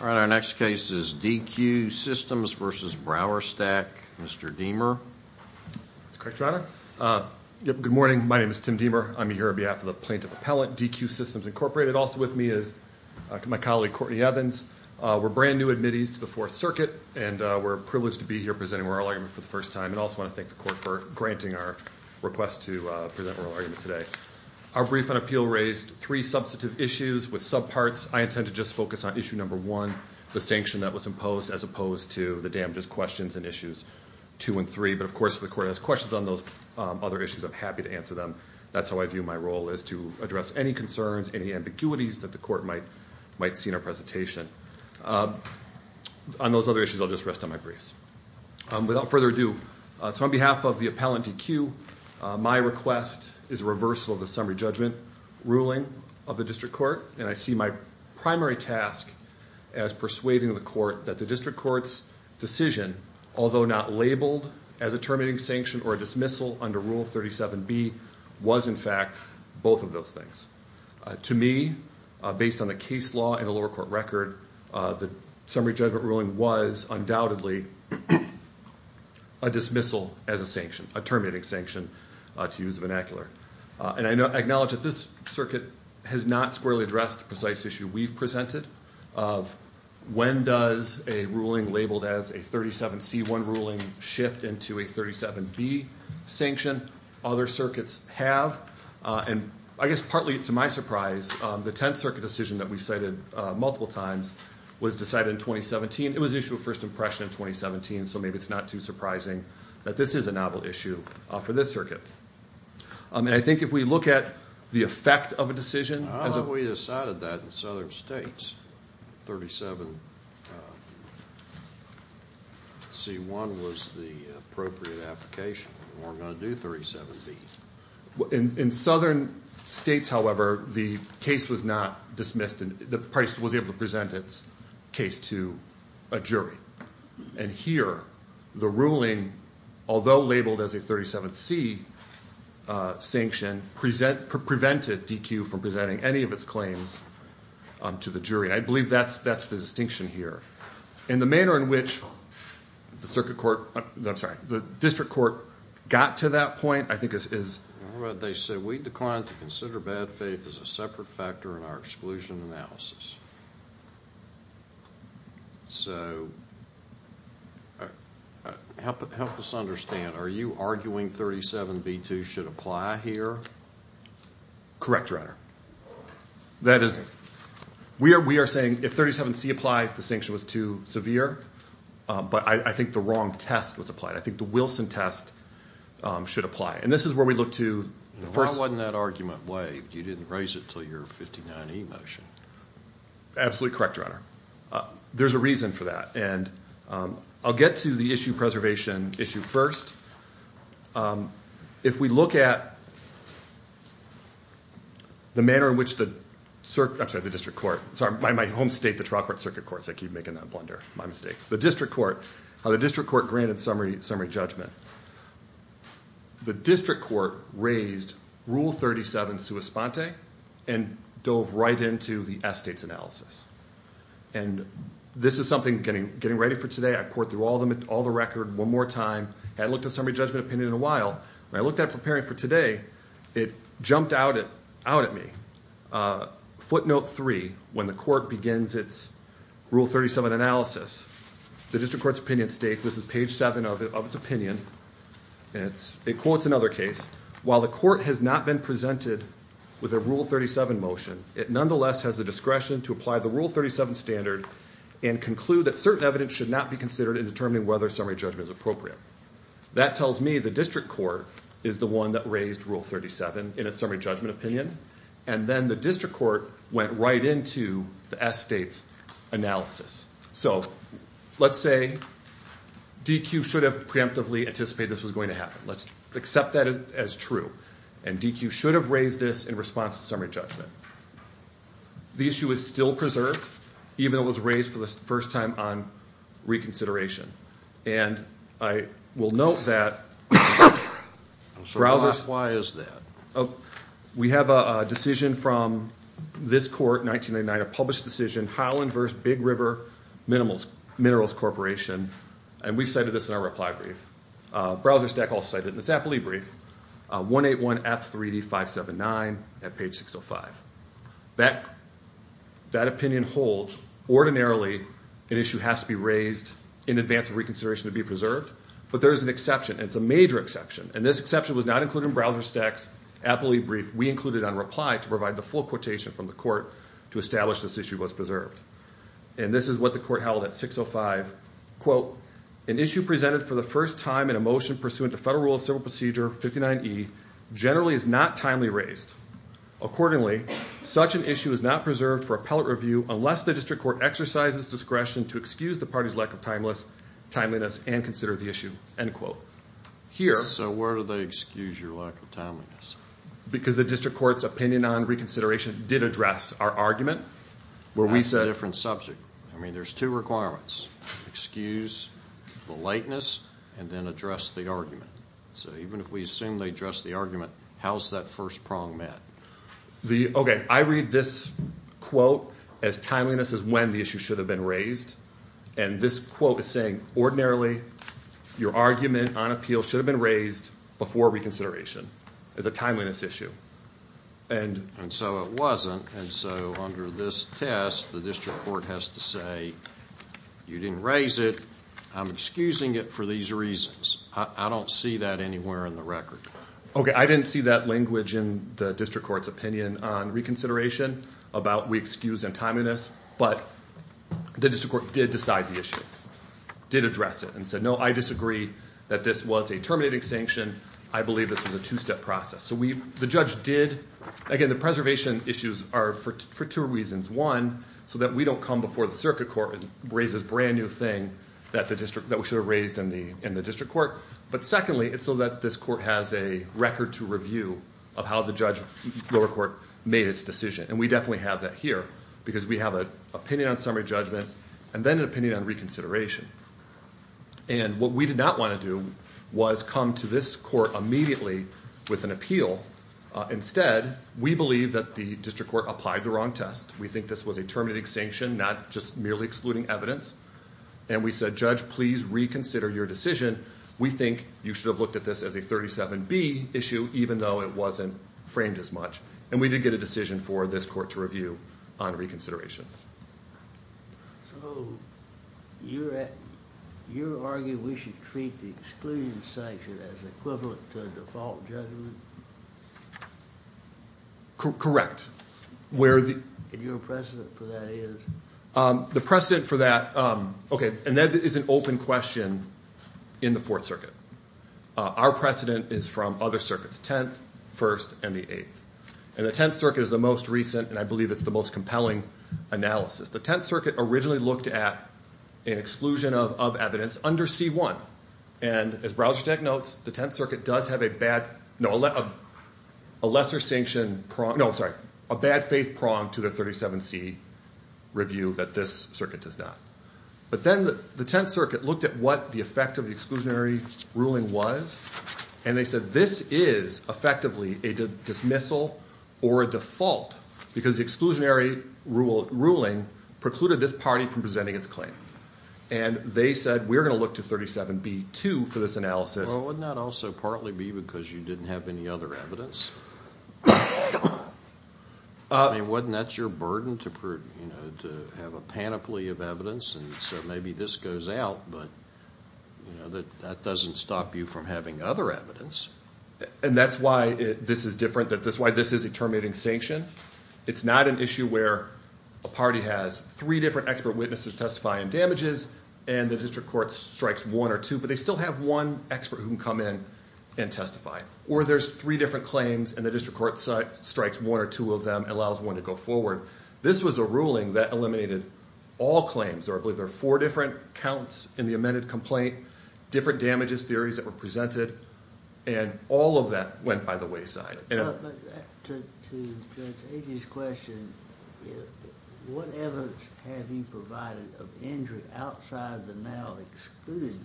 All right, our next case is Deque Systems v. Browserstack. Mr. Deamer. That's correct, Your Honor. Good morning. My name is Tim Deamer. I'm here on behalf of the Plaintiff Appellant, Deque Systems Incorporated. Also with me is my colleague, Courtney Evans. We're brand-new admittees to the Fourth Circuit, and we're privileged to be here presenting oral argument for the first time. I also want to thank the Court for granting our request to present oral argument today. Our brief and appeal raised three substantive issues with subparts. I intend to just focus on issue number one, the sanction that was imposed, as opposed to the damages questions in issues two and three. But, of course, if the Court has questions on those other issues, I'm happy to answer them. That's how I view my role is to address any concerns, any ambiguities that the Court might see in our presentation. On those other issues, I'll just rest on my briefs. Without further ado, so on behalf of the appellant, Deque, my request is a reversal of the summary judgment ruling of the district court, and I see my primary task as persuading the Court that the district court's decision, although not labeled as a terminating sanction or a dismissal under Rule 37B, was, in fact, both of those things. To me, based on a case law and a lower court record, the summary judgment ruling was undoubtedly a dismissal as a sanction, a terminating sanction, to use the vernacular. And I acknowledge that this circuit has not squarely addressed the precise issue we've presented. When does a ruling labeled as a 37C1 ruling shift into a 37B sanction? Other circuits have. And I guess partly to my surprise, the Tenth Circuit decision that we've cited multiple times was decided in 2017. It was an issue of first impression in 2017, so maybe it's not too surprising that this is a novel issue for this circuit. And I think if we look at the effect of a decision as a- I thought we decided that in southern states. 37C1 was the appropriate application. We weren't going to do 37B. In southern states, however, the case was not dismissed, and the party was able to present its case to a jury. And here, the ruling, although labeled as a 37C sanction, prevented DQ from presenting any of its claims to the jury. I believe that's the distinction here. And the manner in which the district court got to that point, I think, is- Well, they said, We declined to consider bad faith as a separate factor in our exclusion analysis. So help us understand. Are you arguing 37B2 should apply here? Correct, Your Honor. That is-we are saying if 37C applies, the sanction was too severe. But I think the wrong test was applied. I think the Wilson test should apply. And this is where we look to the first- Why wasn't that argument waived? You didn't raise it until your 59E motion. Absolutely correct, Your Honor. There's a reason for that. And I'll get to the issue preservation issue first. If we look at the manner in which the-I'm sorry, the district court. Sorry, by my home state, the trial court circuit courts. I keep making that blunder. My mistake. The district court, how the district court granted summary judgment. The district court raised Rule 37, sua sponte, and dove right into the S-States analysis. And this is something getting ready for today. I poured through all the record one more time. Hadn't looked at summary judgment opinion in a while. When I looked at it preparing for today, it jumped out at me. Footnote 3, when the court begins its Rule 37 analysis, the district court's opinion states, this is page 7 of its opinion, and it quotes another case, while the court has not been presented with a Rule 37 motion, it nonetheless has the discretion to apply the Rule 37 standard and conclude that certain evidence should not be considered in determining whether summary judgment is appropriate. That tells me the district court is the one that raised Rule 37 in its summary judgment opinion. And then the district court went right into the S-States analysis. So let's say DQ should have preemptively anticipated this was going to happen. Let's accept that as true. And DQ should have raised this in response to summary judgment. The issue is still preserved, even though it was raised for the first time on reconsideration. And I will note that browsers. Why is that? We have a decision from this court in 1999, a published decision, Highland v. Big River Minerals Corporation, and we cited this in our reply brief. Browser stack also cited in the Zappoli brief, 181F3D579 at page 605. That opinion holds. Ordinarily, an issue has to be raised in advance of reconsideration to be preserved. But there is an exception, and it's a major exception. And this exception was not included in Browser Stack's Zappoli brief. We included it on reply to provide the full quotation from the court to establish this issue was preserved. And this is what the court held at 605. Quote, an issue presented for the first time in a motion pursuant to Federal Rule of Civil Procedure 59E generally is not timely raised. Accordingly, such an issue is not preserved for appellate review unless the district court exercises discretion to excuse the party's lack of timeliness and consider the issue, end quote. So where do they excuse your lack of timeliness? Because the district court's opinion on reconsideration did address our argument. That's a different subject. I mean, there's two requirements, excuse the lateness and then address the argument. So even if we assume they addressed the argument, how is that first prong met? Okay, I read this quote as timeliness is when the issue should have been raised. And this quote is saying ordinarily your argument on appeal should have been raised before reconsideration. It's a timeliness issue. And so it wasn't. And so under this test, the district court has to say you didn't raise it. I'm excusing it for these reasons. I don't see that anywhere in the record. Okay, I didn't see that language in the district court's opinion on reconsideration about we excuse and timeliness. But the district court did decide the issue, did address it, and said, no, I disagree that this was a terminating sanction. I believe this was a two-step process. So the judge did, again, the preservation issues are for two reasons. One, so that we don't come before the circuit court and raise this brand new thing that we should have raised in the district court. But secondly, it's so that this court has a record to review of how the judge, lower court, made its decision. And we definitely have that here because we have an opinion on summary judgment and then an opinion on reconsideration. And what we did not want to do was come to this court immediately with an appeal. Instead, we believe that the district court applied the wrong test. We think this was a terminating sanction, not just merely excluding evidence. And we said, judge, please reconsider your decision. We think you should have looked at this as a 37B issue, even though it wasn't framed as much. And we did get a decision for this court to review on reconsideration. So you're arguing we should treat the exclusion sanction as equivalent to a default judgment? Correct. And your precedent for that is? The precedent for that, okay, and that is an open question in the Fourth Circuit. Our precedent is from other circuits, Tenth, First, and the Eighth. And the Tenth Circuit is the most recent, and I believe it's the most compelling analysis. The Tenth Circuit originally looked at an exclusion of evidence under C1. And as Browser Tech notes, the Tenth Circuit does have a lesser sanction, no, I'm sorry, a bad faith prong to the 37C review that this circuit does not. But then the Tenth Circuit looked at what the effect of the exclusionary ruling was, and they said this is effectively a dismissal or a default, because the exclusionary ruling precluded this party from presenting its claim. And they said we're going to look to 37B-2 for this analysis. Well, wouldn't that also partly be because you didn't have any other evidence? I mean, wouldn't that's your burden to have a panoply of evidence, and so maybe this goes out, but that doesn't stop you from having other evidence. And that's why this is different, that's why this is a terminating sanction. It's not an issue where a party has three different expert witnesses testifying damages, and the district court strikes one or two, but they still have one expert who can come in and testify. Or there's three different claims, and the district court strikes one or two of them, allows one to go forward. This was a ruling that eliminated all claims, or I believe there are four different counts in the amended complaint, different damages theories that were presented, and all of that went by the wayside. To Judge Agee's question, what evidence have you provided of injury outside the now-excluded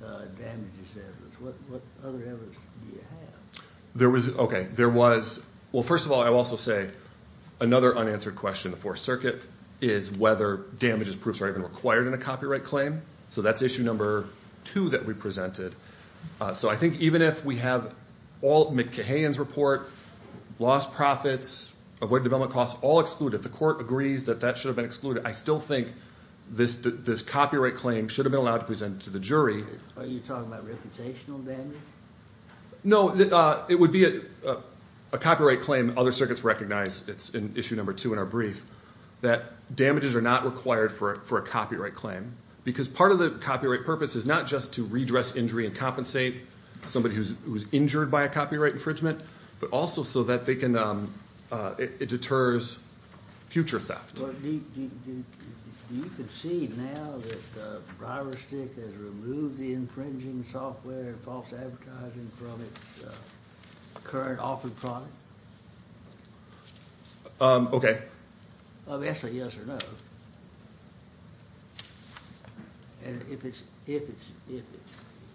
damages evidence? What other evidence do you have? Okay. Well, first of all, I will also say another unanswered question in the Fourth Circuit is whether damages proofs are even required in a copyright claim. So that's issue number two that we presented. So I think even if we have all McKahan's report, lost profits, avoidant development costs, all excluded, if the court agrees that that should have been excluded, I still think this copyright claim should have been allowed to present to the jury. Are you talking about reputational damage? No. It would be a copyright claim other circuits recognize. It's in issue number two in our brief that damages are not required for a copyright claim because part of the copyright purpose is not just to redress injury and compensate somebody who's injured by a copyright infringement, but also so that it deters future theft. Do you concede now that Briarstick has removed the infringing software and false advertising from its current offered product? Okay. That's a yes or no. And if it's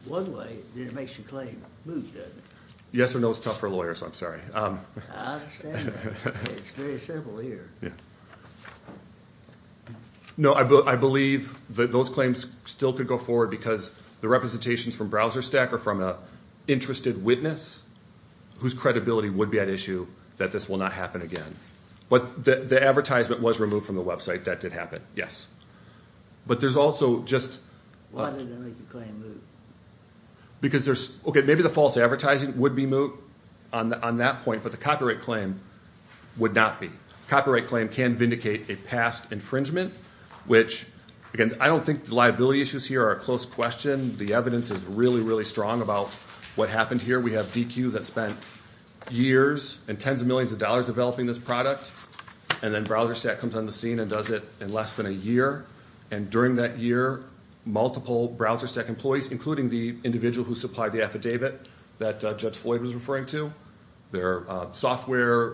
one way, then it makes your claim. Moves doesn't it? Yes or no is tough for lawyers, I'm sorry. I understand that. It's very simple here. No, I believe that those claims still could go forward because the representations from BrowserStack are from an interested witness whose credibility would be at issue that this will not happen again. The advertisement was removed from the website. That did happen, yes. But there's also just... Why didn't they make the claim moot? Because there's... Okay, maybe the false advertising would be moot on that point, but the copyright claim would not be. Copyright claim can vindicate a past infringement, which, again, I don't think the liability issues here are a close question. The evidence is really, really strong about what happened here. We have DQ that spent years and tens of millions of dollars developing this product, and then BrowserStack comes on the scene and does it in less than a year. And during that year, multiple BrowserStack employees, including the individual who supplied the affidavit that Judge Floyd was referring to, their software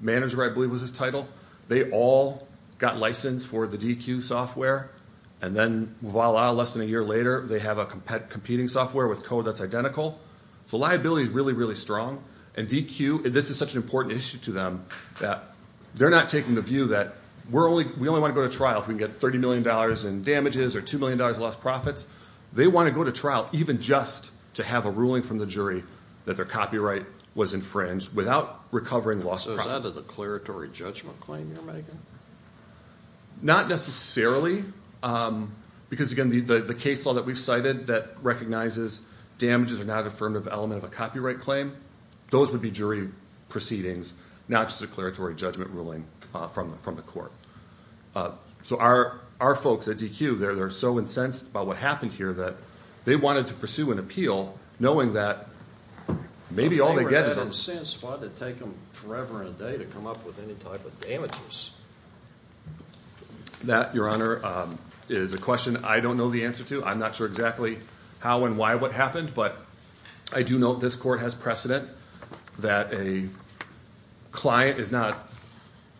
manager, I believe was his title, they all got licensed for the DQ software. And then, voila, less than a year later, they have a competing software with code that's identical. So liability is really, really strong. And DQ, this is such an important issue to them, that they're not taking the view that we only want to go to trial if we can get $30 million in damages or $2 million in lost profits. They want to go to trial even just to have a ruling from the jury that their copyright was infringed without recovering lost profits. So is that a declaratory judgment claim you're making? Not necessarily, because, again, the case law that we've cited that recognizes damages are not an affirmative element of a copyright claim, those would be jury proceedings, not just a declaratory judgment ruling from the court. So our folks at DQ, they're so incensed by what happened here that they wanted to pursue an appeal knowing that maybe all they get is a If they were that incensed, why did it take them forever and a day to come up with any type of damages? That, Your Honor, is a question I don't know the answer to. I'm not sure exactly how and why what happened, but I do know this court has precedent that a client is not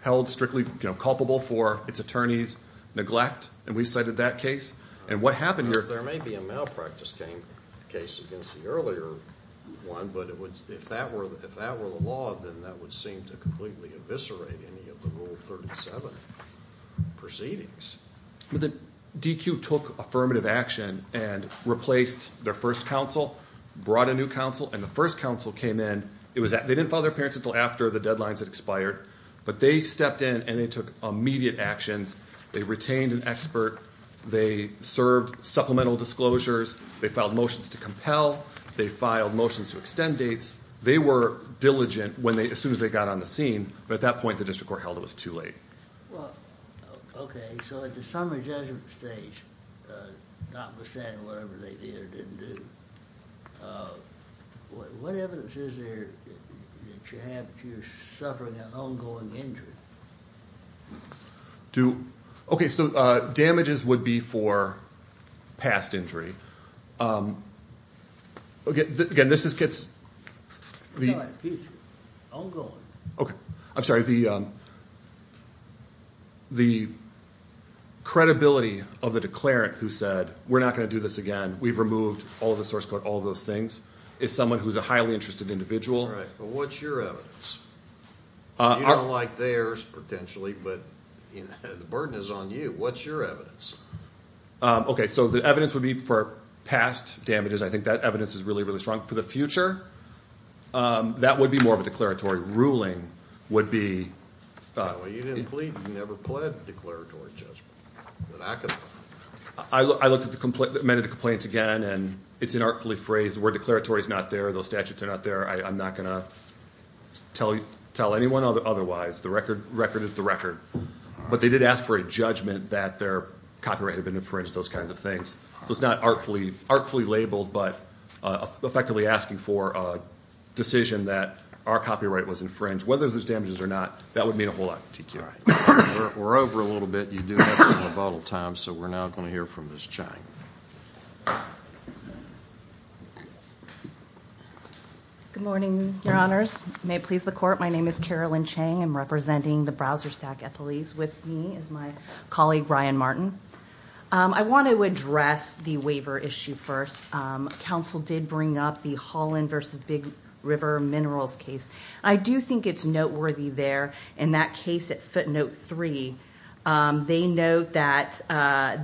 held strictly culpable for its attorney's neglect, and we've cited that case. There may be a malpractice case against the earlier one, but if that were the law, then that would seem to completely eviscerate any of the Rule 37 proceedings. DQ took affirmative action and replaced their first counsel, brought a new counsel, and the first counsel came in. They didn't file their appearance until after the deadlines had expired, but they stepped in and they took immediate actions. They retained an expert. They served supplemental disclosures. They filed motions to compel. They filed motions to extend dates. They were diligent as soon as they got on the scene, but at that point the district court held it was too late. Okay, so at the summary judgment stage, notwithstanding whatever they did or didn't do, what evidence is there that you're suffering an ongoing injury? Okay, so damages would be for past injury. Again, this gets the credibility of the declarant who said, we're not going to do this again, we've removed all the source code, all those things, is someone who is a highly interested individual. All right, but what's your evidence? You don't like theirs, potentially, but the burden is on you. What's your evidence? Okay, so the evidence would be for past damages. I think that evidence is really, really strong. For the future, that would be more of a declaratory. Ruling would be... Well, you didn't plead. You never pled declaratory judgment. I looked at many of the complaints again, and it's inartfully phrased. The word declaratory is not there. Those statutes are not there. I'm not going to tell anyone otherwise. The record is the record. But they did ask for a judgment that their copyright had been infringed, those kinds of things. So it's not artfully labeled, but effectively asking for a decision that our copyright was infringed. Whether there's damages or not, that would mean a whole lot to TQI. We're over a little bit. You do have some rebuttal time, so we're now going to hear from Ms. Chang. Good morning, Your Honors. May it please the Court, my name is Carolyn Chang. I'm representing the Browserstack Ethicalese. With me is my colleague, Ryan Martin. I want to address the waiver issue first. Counsel did bring up the Holland v. Big River Minerals case. I do think it's noteworthy there. In that case at footnote 3, they note that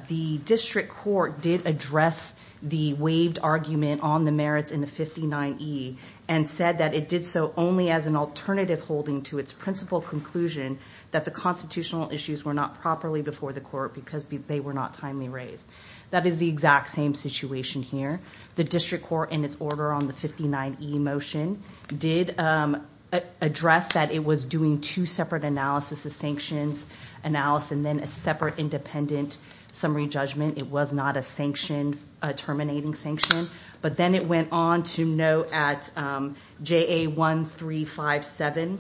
the district court did address the waived argument on the merits in the 59E and said that it did so only as an alternative holding to its principal conclusion that the constitutional issues were not properly before the court because they were not timely raised. That is the exact same situation here. The district court, in its order on the 59E motion, did address that it was doing two separate analyses, a sanctions analysis and then a separate independent summary judgment. It was not a terminating sanction. But then it went on to note at JA1357,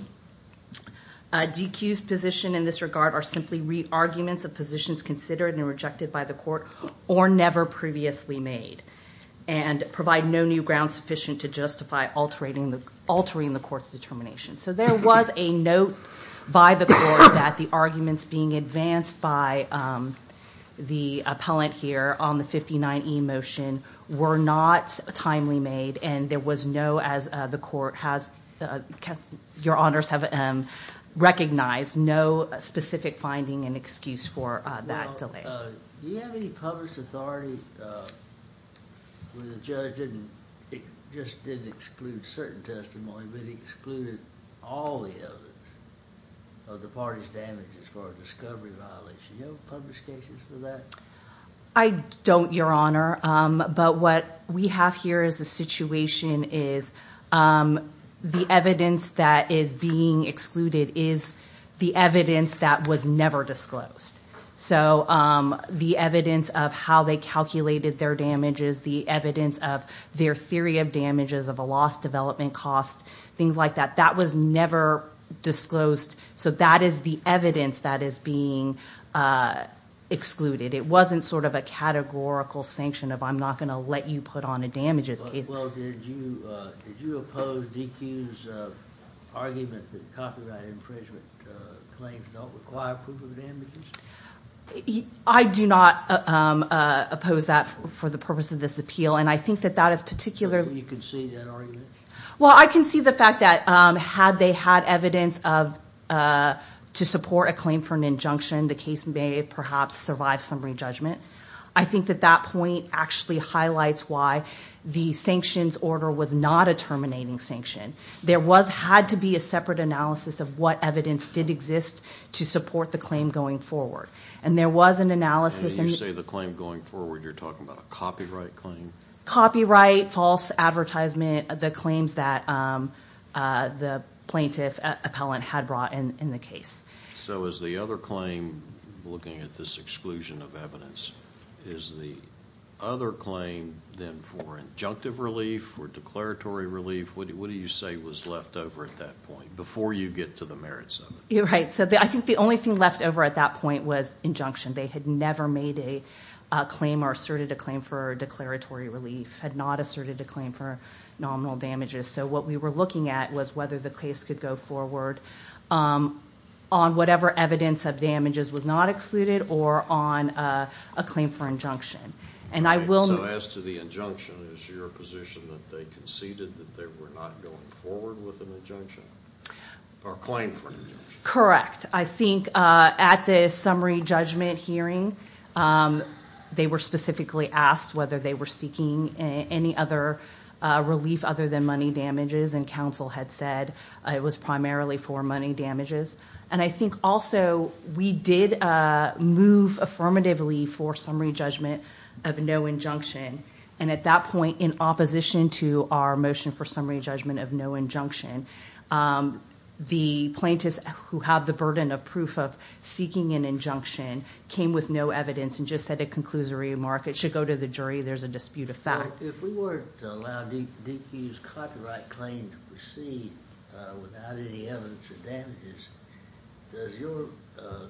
DQ's position in this regard are simply re-arguments of positions considered and rejected by the court or never previously made and provide no new ground sufficient to justify altering the court's determination. So there was a note by the court that the arguments being advanced by the appellant here on the 59E motion were not timely made and there was no, as the court has, your honors have recognized, no specific finding and excuse for that delay. Do you have any published authority where the judge just didn't exclude certain testimony but excluded all the evidence of the party's damages for a discovery violation? Do you have any published cases for that? I don't, your honor. But what we have here as a situation is the evidence that is being excluded is the evidence that was never disclosed. So the evidence of how they calculated their damages, the evidence of their theory of damages of a lost development cost, things like that. That was never disclosed. So that is the evidence that is being excluded. It wasn't sort of a categorical sanction of I'm not going to let you put on a damages case. Well, did you oppose DQ's argument that copyright infringement claims don't require proof of damages? I do not oppose that for the purpose of this appeal. And I think that that is particularly Do you concede that argument? Well, I concede the fact that had they had evidence to support a claim for an injunction, the case may have perhaps survived some re-judgment. I think that that point actually highlights why the sanctions order was not a terminating sanction. There had to be a separate analysis of what evidence did exist to support the claim going forward. And there was an analysis And when you say the claim going forward, you're talking about a copyright claim? Copyright, false advertisement, the claims that the plaintiff appellant had brought in the case. So is the other claim, looking at this exclusion of evidence, is the other claim then for injunctive relief, for declaratory relief, what do you say was left over at that point before you get to the merits of it? Right. So I think the only thing left over at that point was injunction. They had never made a claim or asserted a claim for declaratory relief, had not asserted a claim for nominal damages. So what we were looking at was whether the case could go forward on whatever evidence of damages was not excluded or on a claim for injunction. So as to the injunction, is your position that they conceded that they were not going forward with an injunction? Or a claim for an injunction? Correct. I think at the summary judgment hearing, they were specifically asked whether they were seeking any other relief other than money damages, and counsel had said it was primarily for money damages. And I think also we did move affirmatively for summary judgment of no injunction. And at that point, in opposition to our motion for summary judgment of no injunction, the plaintiffs who have the burden of proof of seeking an injunction came with no evidence and just said it concludes a remark. It should go to the jury. There's a dispute of fact. If we were to allow DQ's copyright claim to proceed without any evidence of damages, does your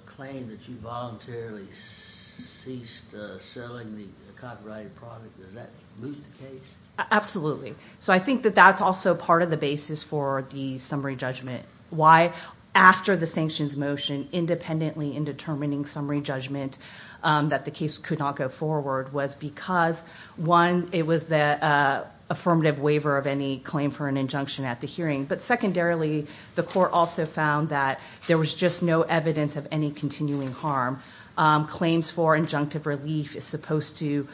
claim that you voluntarily ceased selling the copyrighted product, does that move the case? Absolutely. So I think that that's also part of the basis for the summary judgment. After the sanctions motion, independently in determining summary judgment, that the case could not go forward was because, one, it was the affirmative waiver of any claim for an injunction at the hearing. But secondarily, the court also found that there was just no evidence of any continuing harm. Claims for injunctive relief is supposed to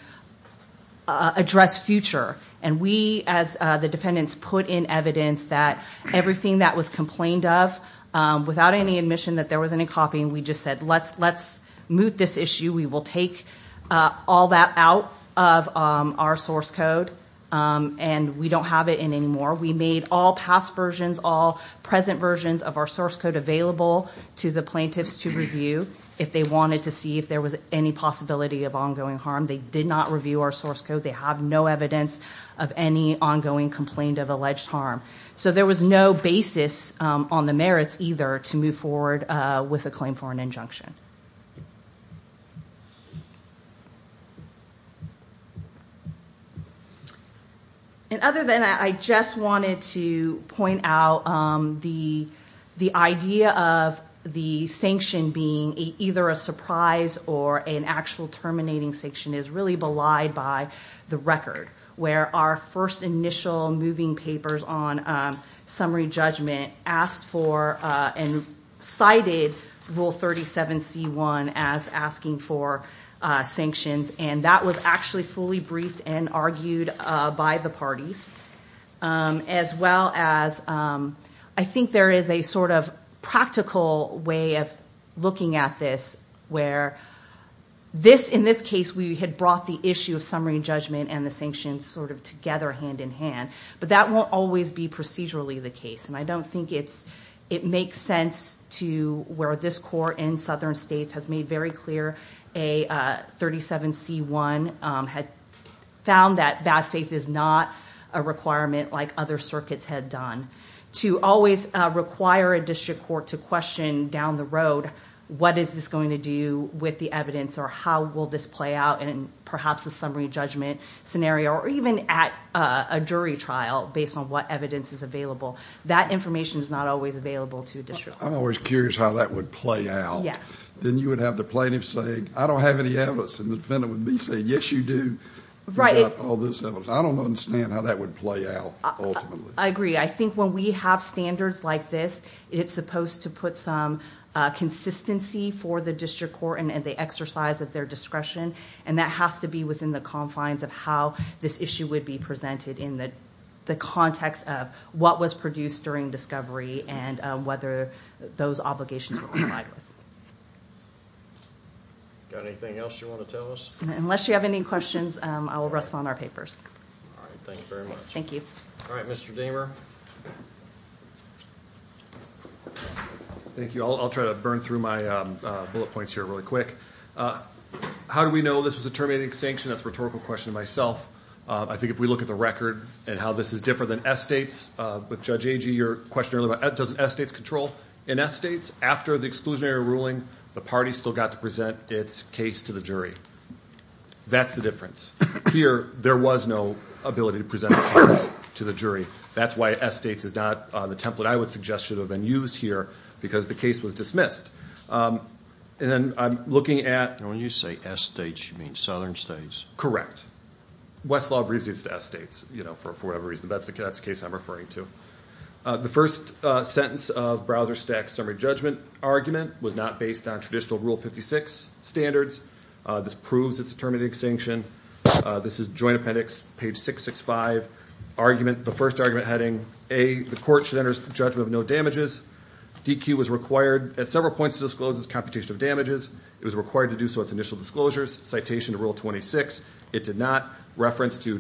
address future. And we, as the defendants, put in evidence that everything that was complained of, without any admission that there was any copying, we just said, let's moot this issue. We will take all that out of our source code. And we don't have it in anymore. We made all past versions, all present versions of our source code, available to the plaintiffs to review if they wanted to see if there was any possibility of ongoing harm. They did not review our source code. They have no evidence of any ongoing complaint of alleged harm. So there was no basis on the merits either to move forward with a claim for an injunction. And other than that, I just wanted to point out the idea of the sanction being either a surprise or an actual terminating sanction is really belied by the record, where our first initial moving papers on summary judgment asked for and cited Rule 37C1 as asking for sanctions. And that was actually fully briefed and argued by the parties, as well as I think there is a sort of practical way of looking at this where in this case we had brought the issue of summary judgment and the sanctions sort of together hand in hand. But that won't always be procedurally the case. And I don't think it makes sense to where this court in southern states has made very clear a 37C1 had found that bad faith is not a requirement like other circuits had done to always require a district court to question down the road what is this going to do with the evidence or how will this play out in perhaps a summary judgment scenario or even at a jury trial based on what evidence is available. That information is not always available to a district court. I'm always curious how that would play out. Then you would have the plaintiff saying, I don't have any evidence. And the defendant would be saying, yes, you do. You've got all this evidence. I don't understand how that would play out ultimately. I agree. I think when we have standards like this, it's supposed to put some consistency for the district court and the exercise of their discretion. And that has to be within the confines of how this issue would be presented in the context of what was produced during discovery and whether those obligations were complied with. Got anything else you want to tell us? Unless you have any questions, I will wrestle on our papers. All right. Thanks very much. Thank you. All right, Mr. Dahmer. Thank you. I'll try to burn through my bullet points here really quick. How do we know this was a terminating sanction? That's a rhetorical question to myself. I think if we look at the record and how this is different than S states, with Judge Agee, your question earlier about does S states control? In S states, after the exclusionary ruling, the party still got to present its case to the jury. That's the difference. Here, there was no ability to present a case to the jury. That's why S states is not the template I would suggest should have been used here because the case was dismissed. And then I'm looking at- And when you say S states, you mean southern states. Correct. Westlaw agrees it's S states, you know, for whatever reason. That's the case I'm referring to. The first sentence of Browser Stack's summary judgment argument was not based on traditional Rule 56 standards. This proves it's a terminating sanction. This is joint appendix, page 665. Argument, the first argument heading, A, the court should enter judgment of no damages. DQ was required at several points to disclose its computation of damages. It was required to do so at its initial disclosures. Citation of Rule 26, it did not reference to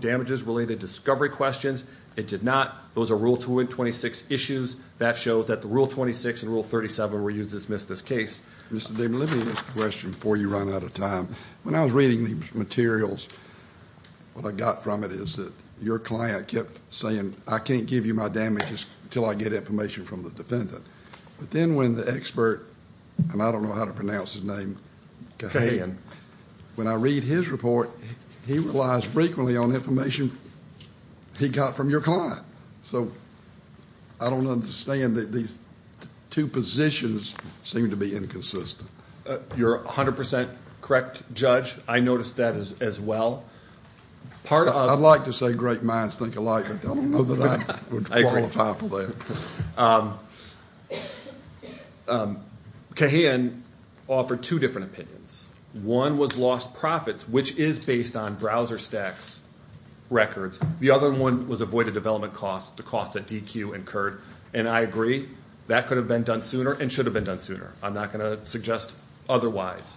damages-related discovery questions. It did not. Those are Rule 26 issues. That shows that the Rule 26 and Rule 37 were used to dismiss this case. Mr. Damon, let me ask a question before you run out of time. When I was reading these materials, what I got from it is that your client kept saying, I can't give you my damages until I get information from the defendant. But then when the expert, and I don't know how to pronounce his name, Kahan, when I read his report, he relies frequently on information he got from your client. So I don't understand that these two positions seem to be inconsistent. You're 100% correct, Judge. I noticed that as well. I'd like to say great minds think alike, but I don't know that I would qualify for that. I agree. Kahan offered two different opinions. One was lost profits, which is based on browser stacks records. The other one was avoided development costs, the costs that DQ incurred. And I agree. That could have been done sooner and should have been done sooner. I'm not going to suggest otherwise.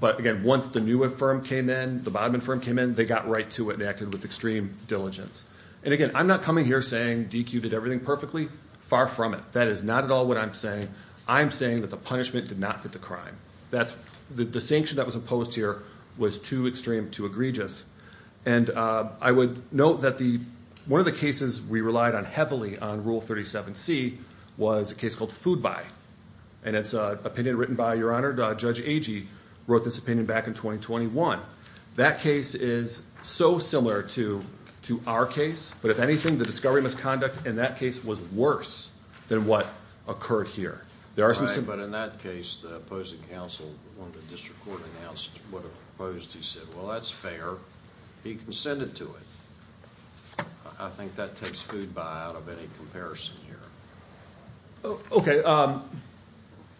But, again, once the new firm came in, the Bodman firm came in, they got right to it and acted with extreme diligence. And, again, I'm not coming here saying DQ did everything perfectly. Far from it. That is not at all what I'm saying. I'm saying that the punishment did not fit the crime. The sanction that was opposed here was too extreme, too egregious. And I would note that one of the cases we relied on heavily on Rule 37C was a case called Food Buy. And it's an opinion written by, Your Honor, Judge Agee wrote this opinion back in 2021. That case is so similar to our case. But, if anything, the discovery misconduct in that case was worse than what occurred here. Right, but in that case, the opposing counsel, when the district court announced what it proposed, he said, Well, that's fair. He consented to it. I think that takes Food Buy out of any comparison here. Okay.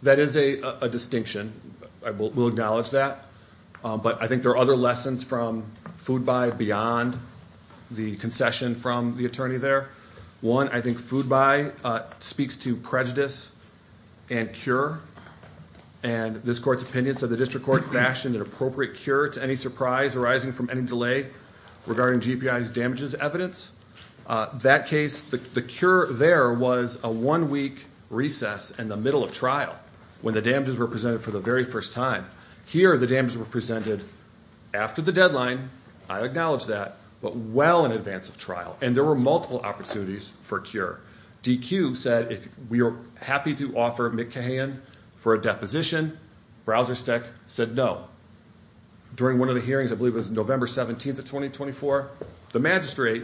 That is a distinction. We'll acknowledge that. But I think there are other lessons from Food Buy beyond the concession from the attorney there. One, I think Food Buy speaks to prejudice and cure. And this court's opinion said the district court fashioned an appropriate cure to any surprise arising from any delay regarding GPI's damages evidence. That case, the cure there was a one-week recess in the middle of trial when the damages were presented for the very first time. Here, the damages were presented after the deadline. I acknowledge that. But well in advance of trial. And there were multiple opportunities for cure. DQ said, We are happy to offer Mick Cahan for a deposition. Browser Steck said no. During one of the hearings, I believe it was November 17th of 2024, the magistrate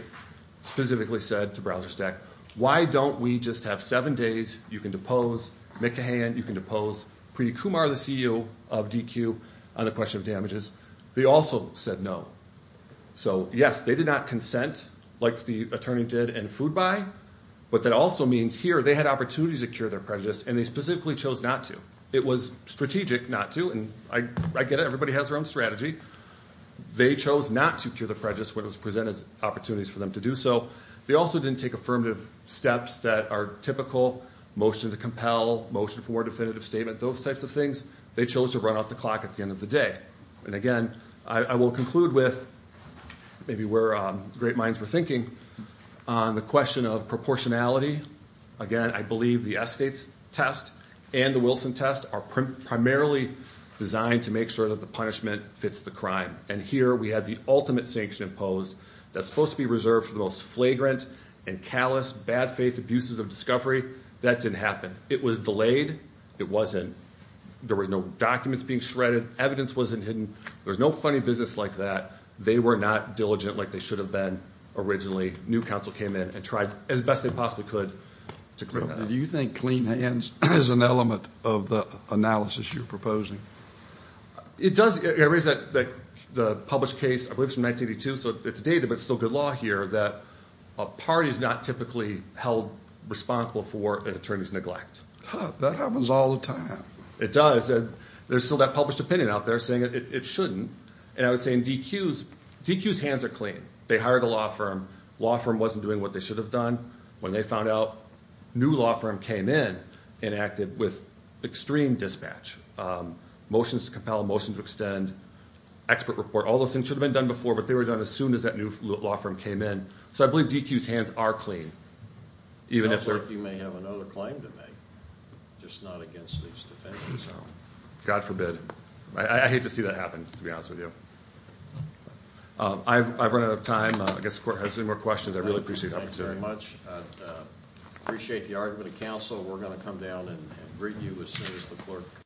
specifically said to Browser Steck, Why don't we just have seven days? You can depose Mick Cahan. You can depose Preeti Kumar, the CEO of DQ, on the question of damages. They also said no. So, yes, they did not consent like the attorney did in Food Buy. But that also means here they had opportunities to cure their prejudice, and they specifically chose not to. It was strategic not to, and I get it. Everybody has their own strategy. They chose not to cure their prejudice when it was presented as opportunities for them to do so. They also didn't take affirmative steps that are typical, motion to compel, motion for definitive statement, those types of things. They chose to run out the clock at the end of the day. And, again, I will conclude with maybe where great minds were thinking on the question of proportionality. Again, I believe the Estates test and the Wilson test are primarily designed to make sure that the punishment fits the crime. And here we have the ultimate sanction imposed that's supposed to be reserved for the most flagrant and callous, bad-faith abuses of discovery. That didn't happen. It was delayed. It wasn't. There was no documents being shredded. Evidence wasn't hidden. There was no funny business like that. They were not diligent like they should have been originally. New counsel came in and tried as best they possibly could to clear that up. Do you think clean hands is an element of the analysis you're proposing? It does. The published case, I believe it's from 1982, so it's dated but it's still good law here, that a party is not typically held responsible for an attorney's neglect. That happens all the time. It does. There's still that published opinion out there saying it shouldn't. And I would say in DQ's, DQ's hands are clean. They hired a law firm. Law firm wasn't doing what they should have done. When they found out, new law firm came in and acted with extreme dispatch. Motions to compel, motions to extend, expert report, all those things should have been done before, but they were done as soon as that new law firm came in. So I believe DQ's hands are clean. Sounds like you may have another claim to make, just not against these defendants. God forbid. I hate to see that happen, to be honest with you. I've run out of time. I guess if the court has any more questions, I'd really appreciate the opportunity. Thank you very much. Appreciate the argument of counsel. We're going to come down and greet you as soon as the clerk.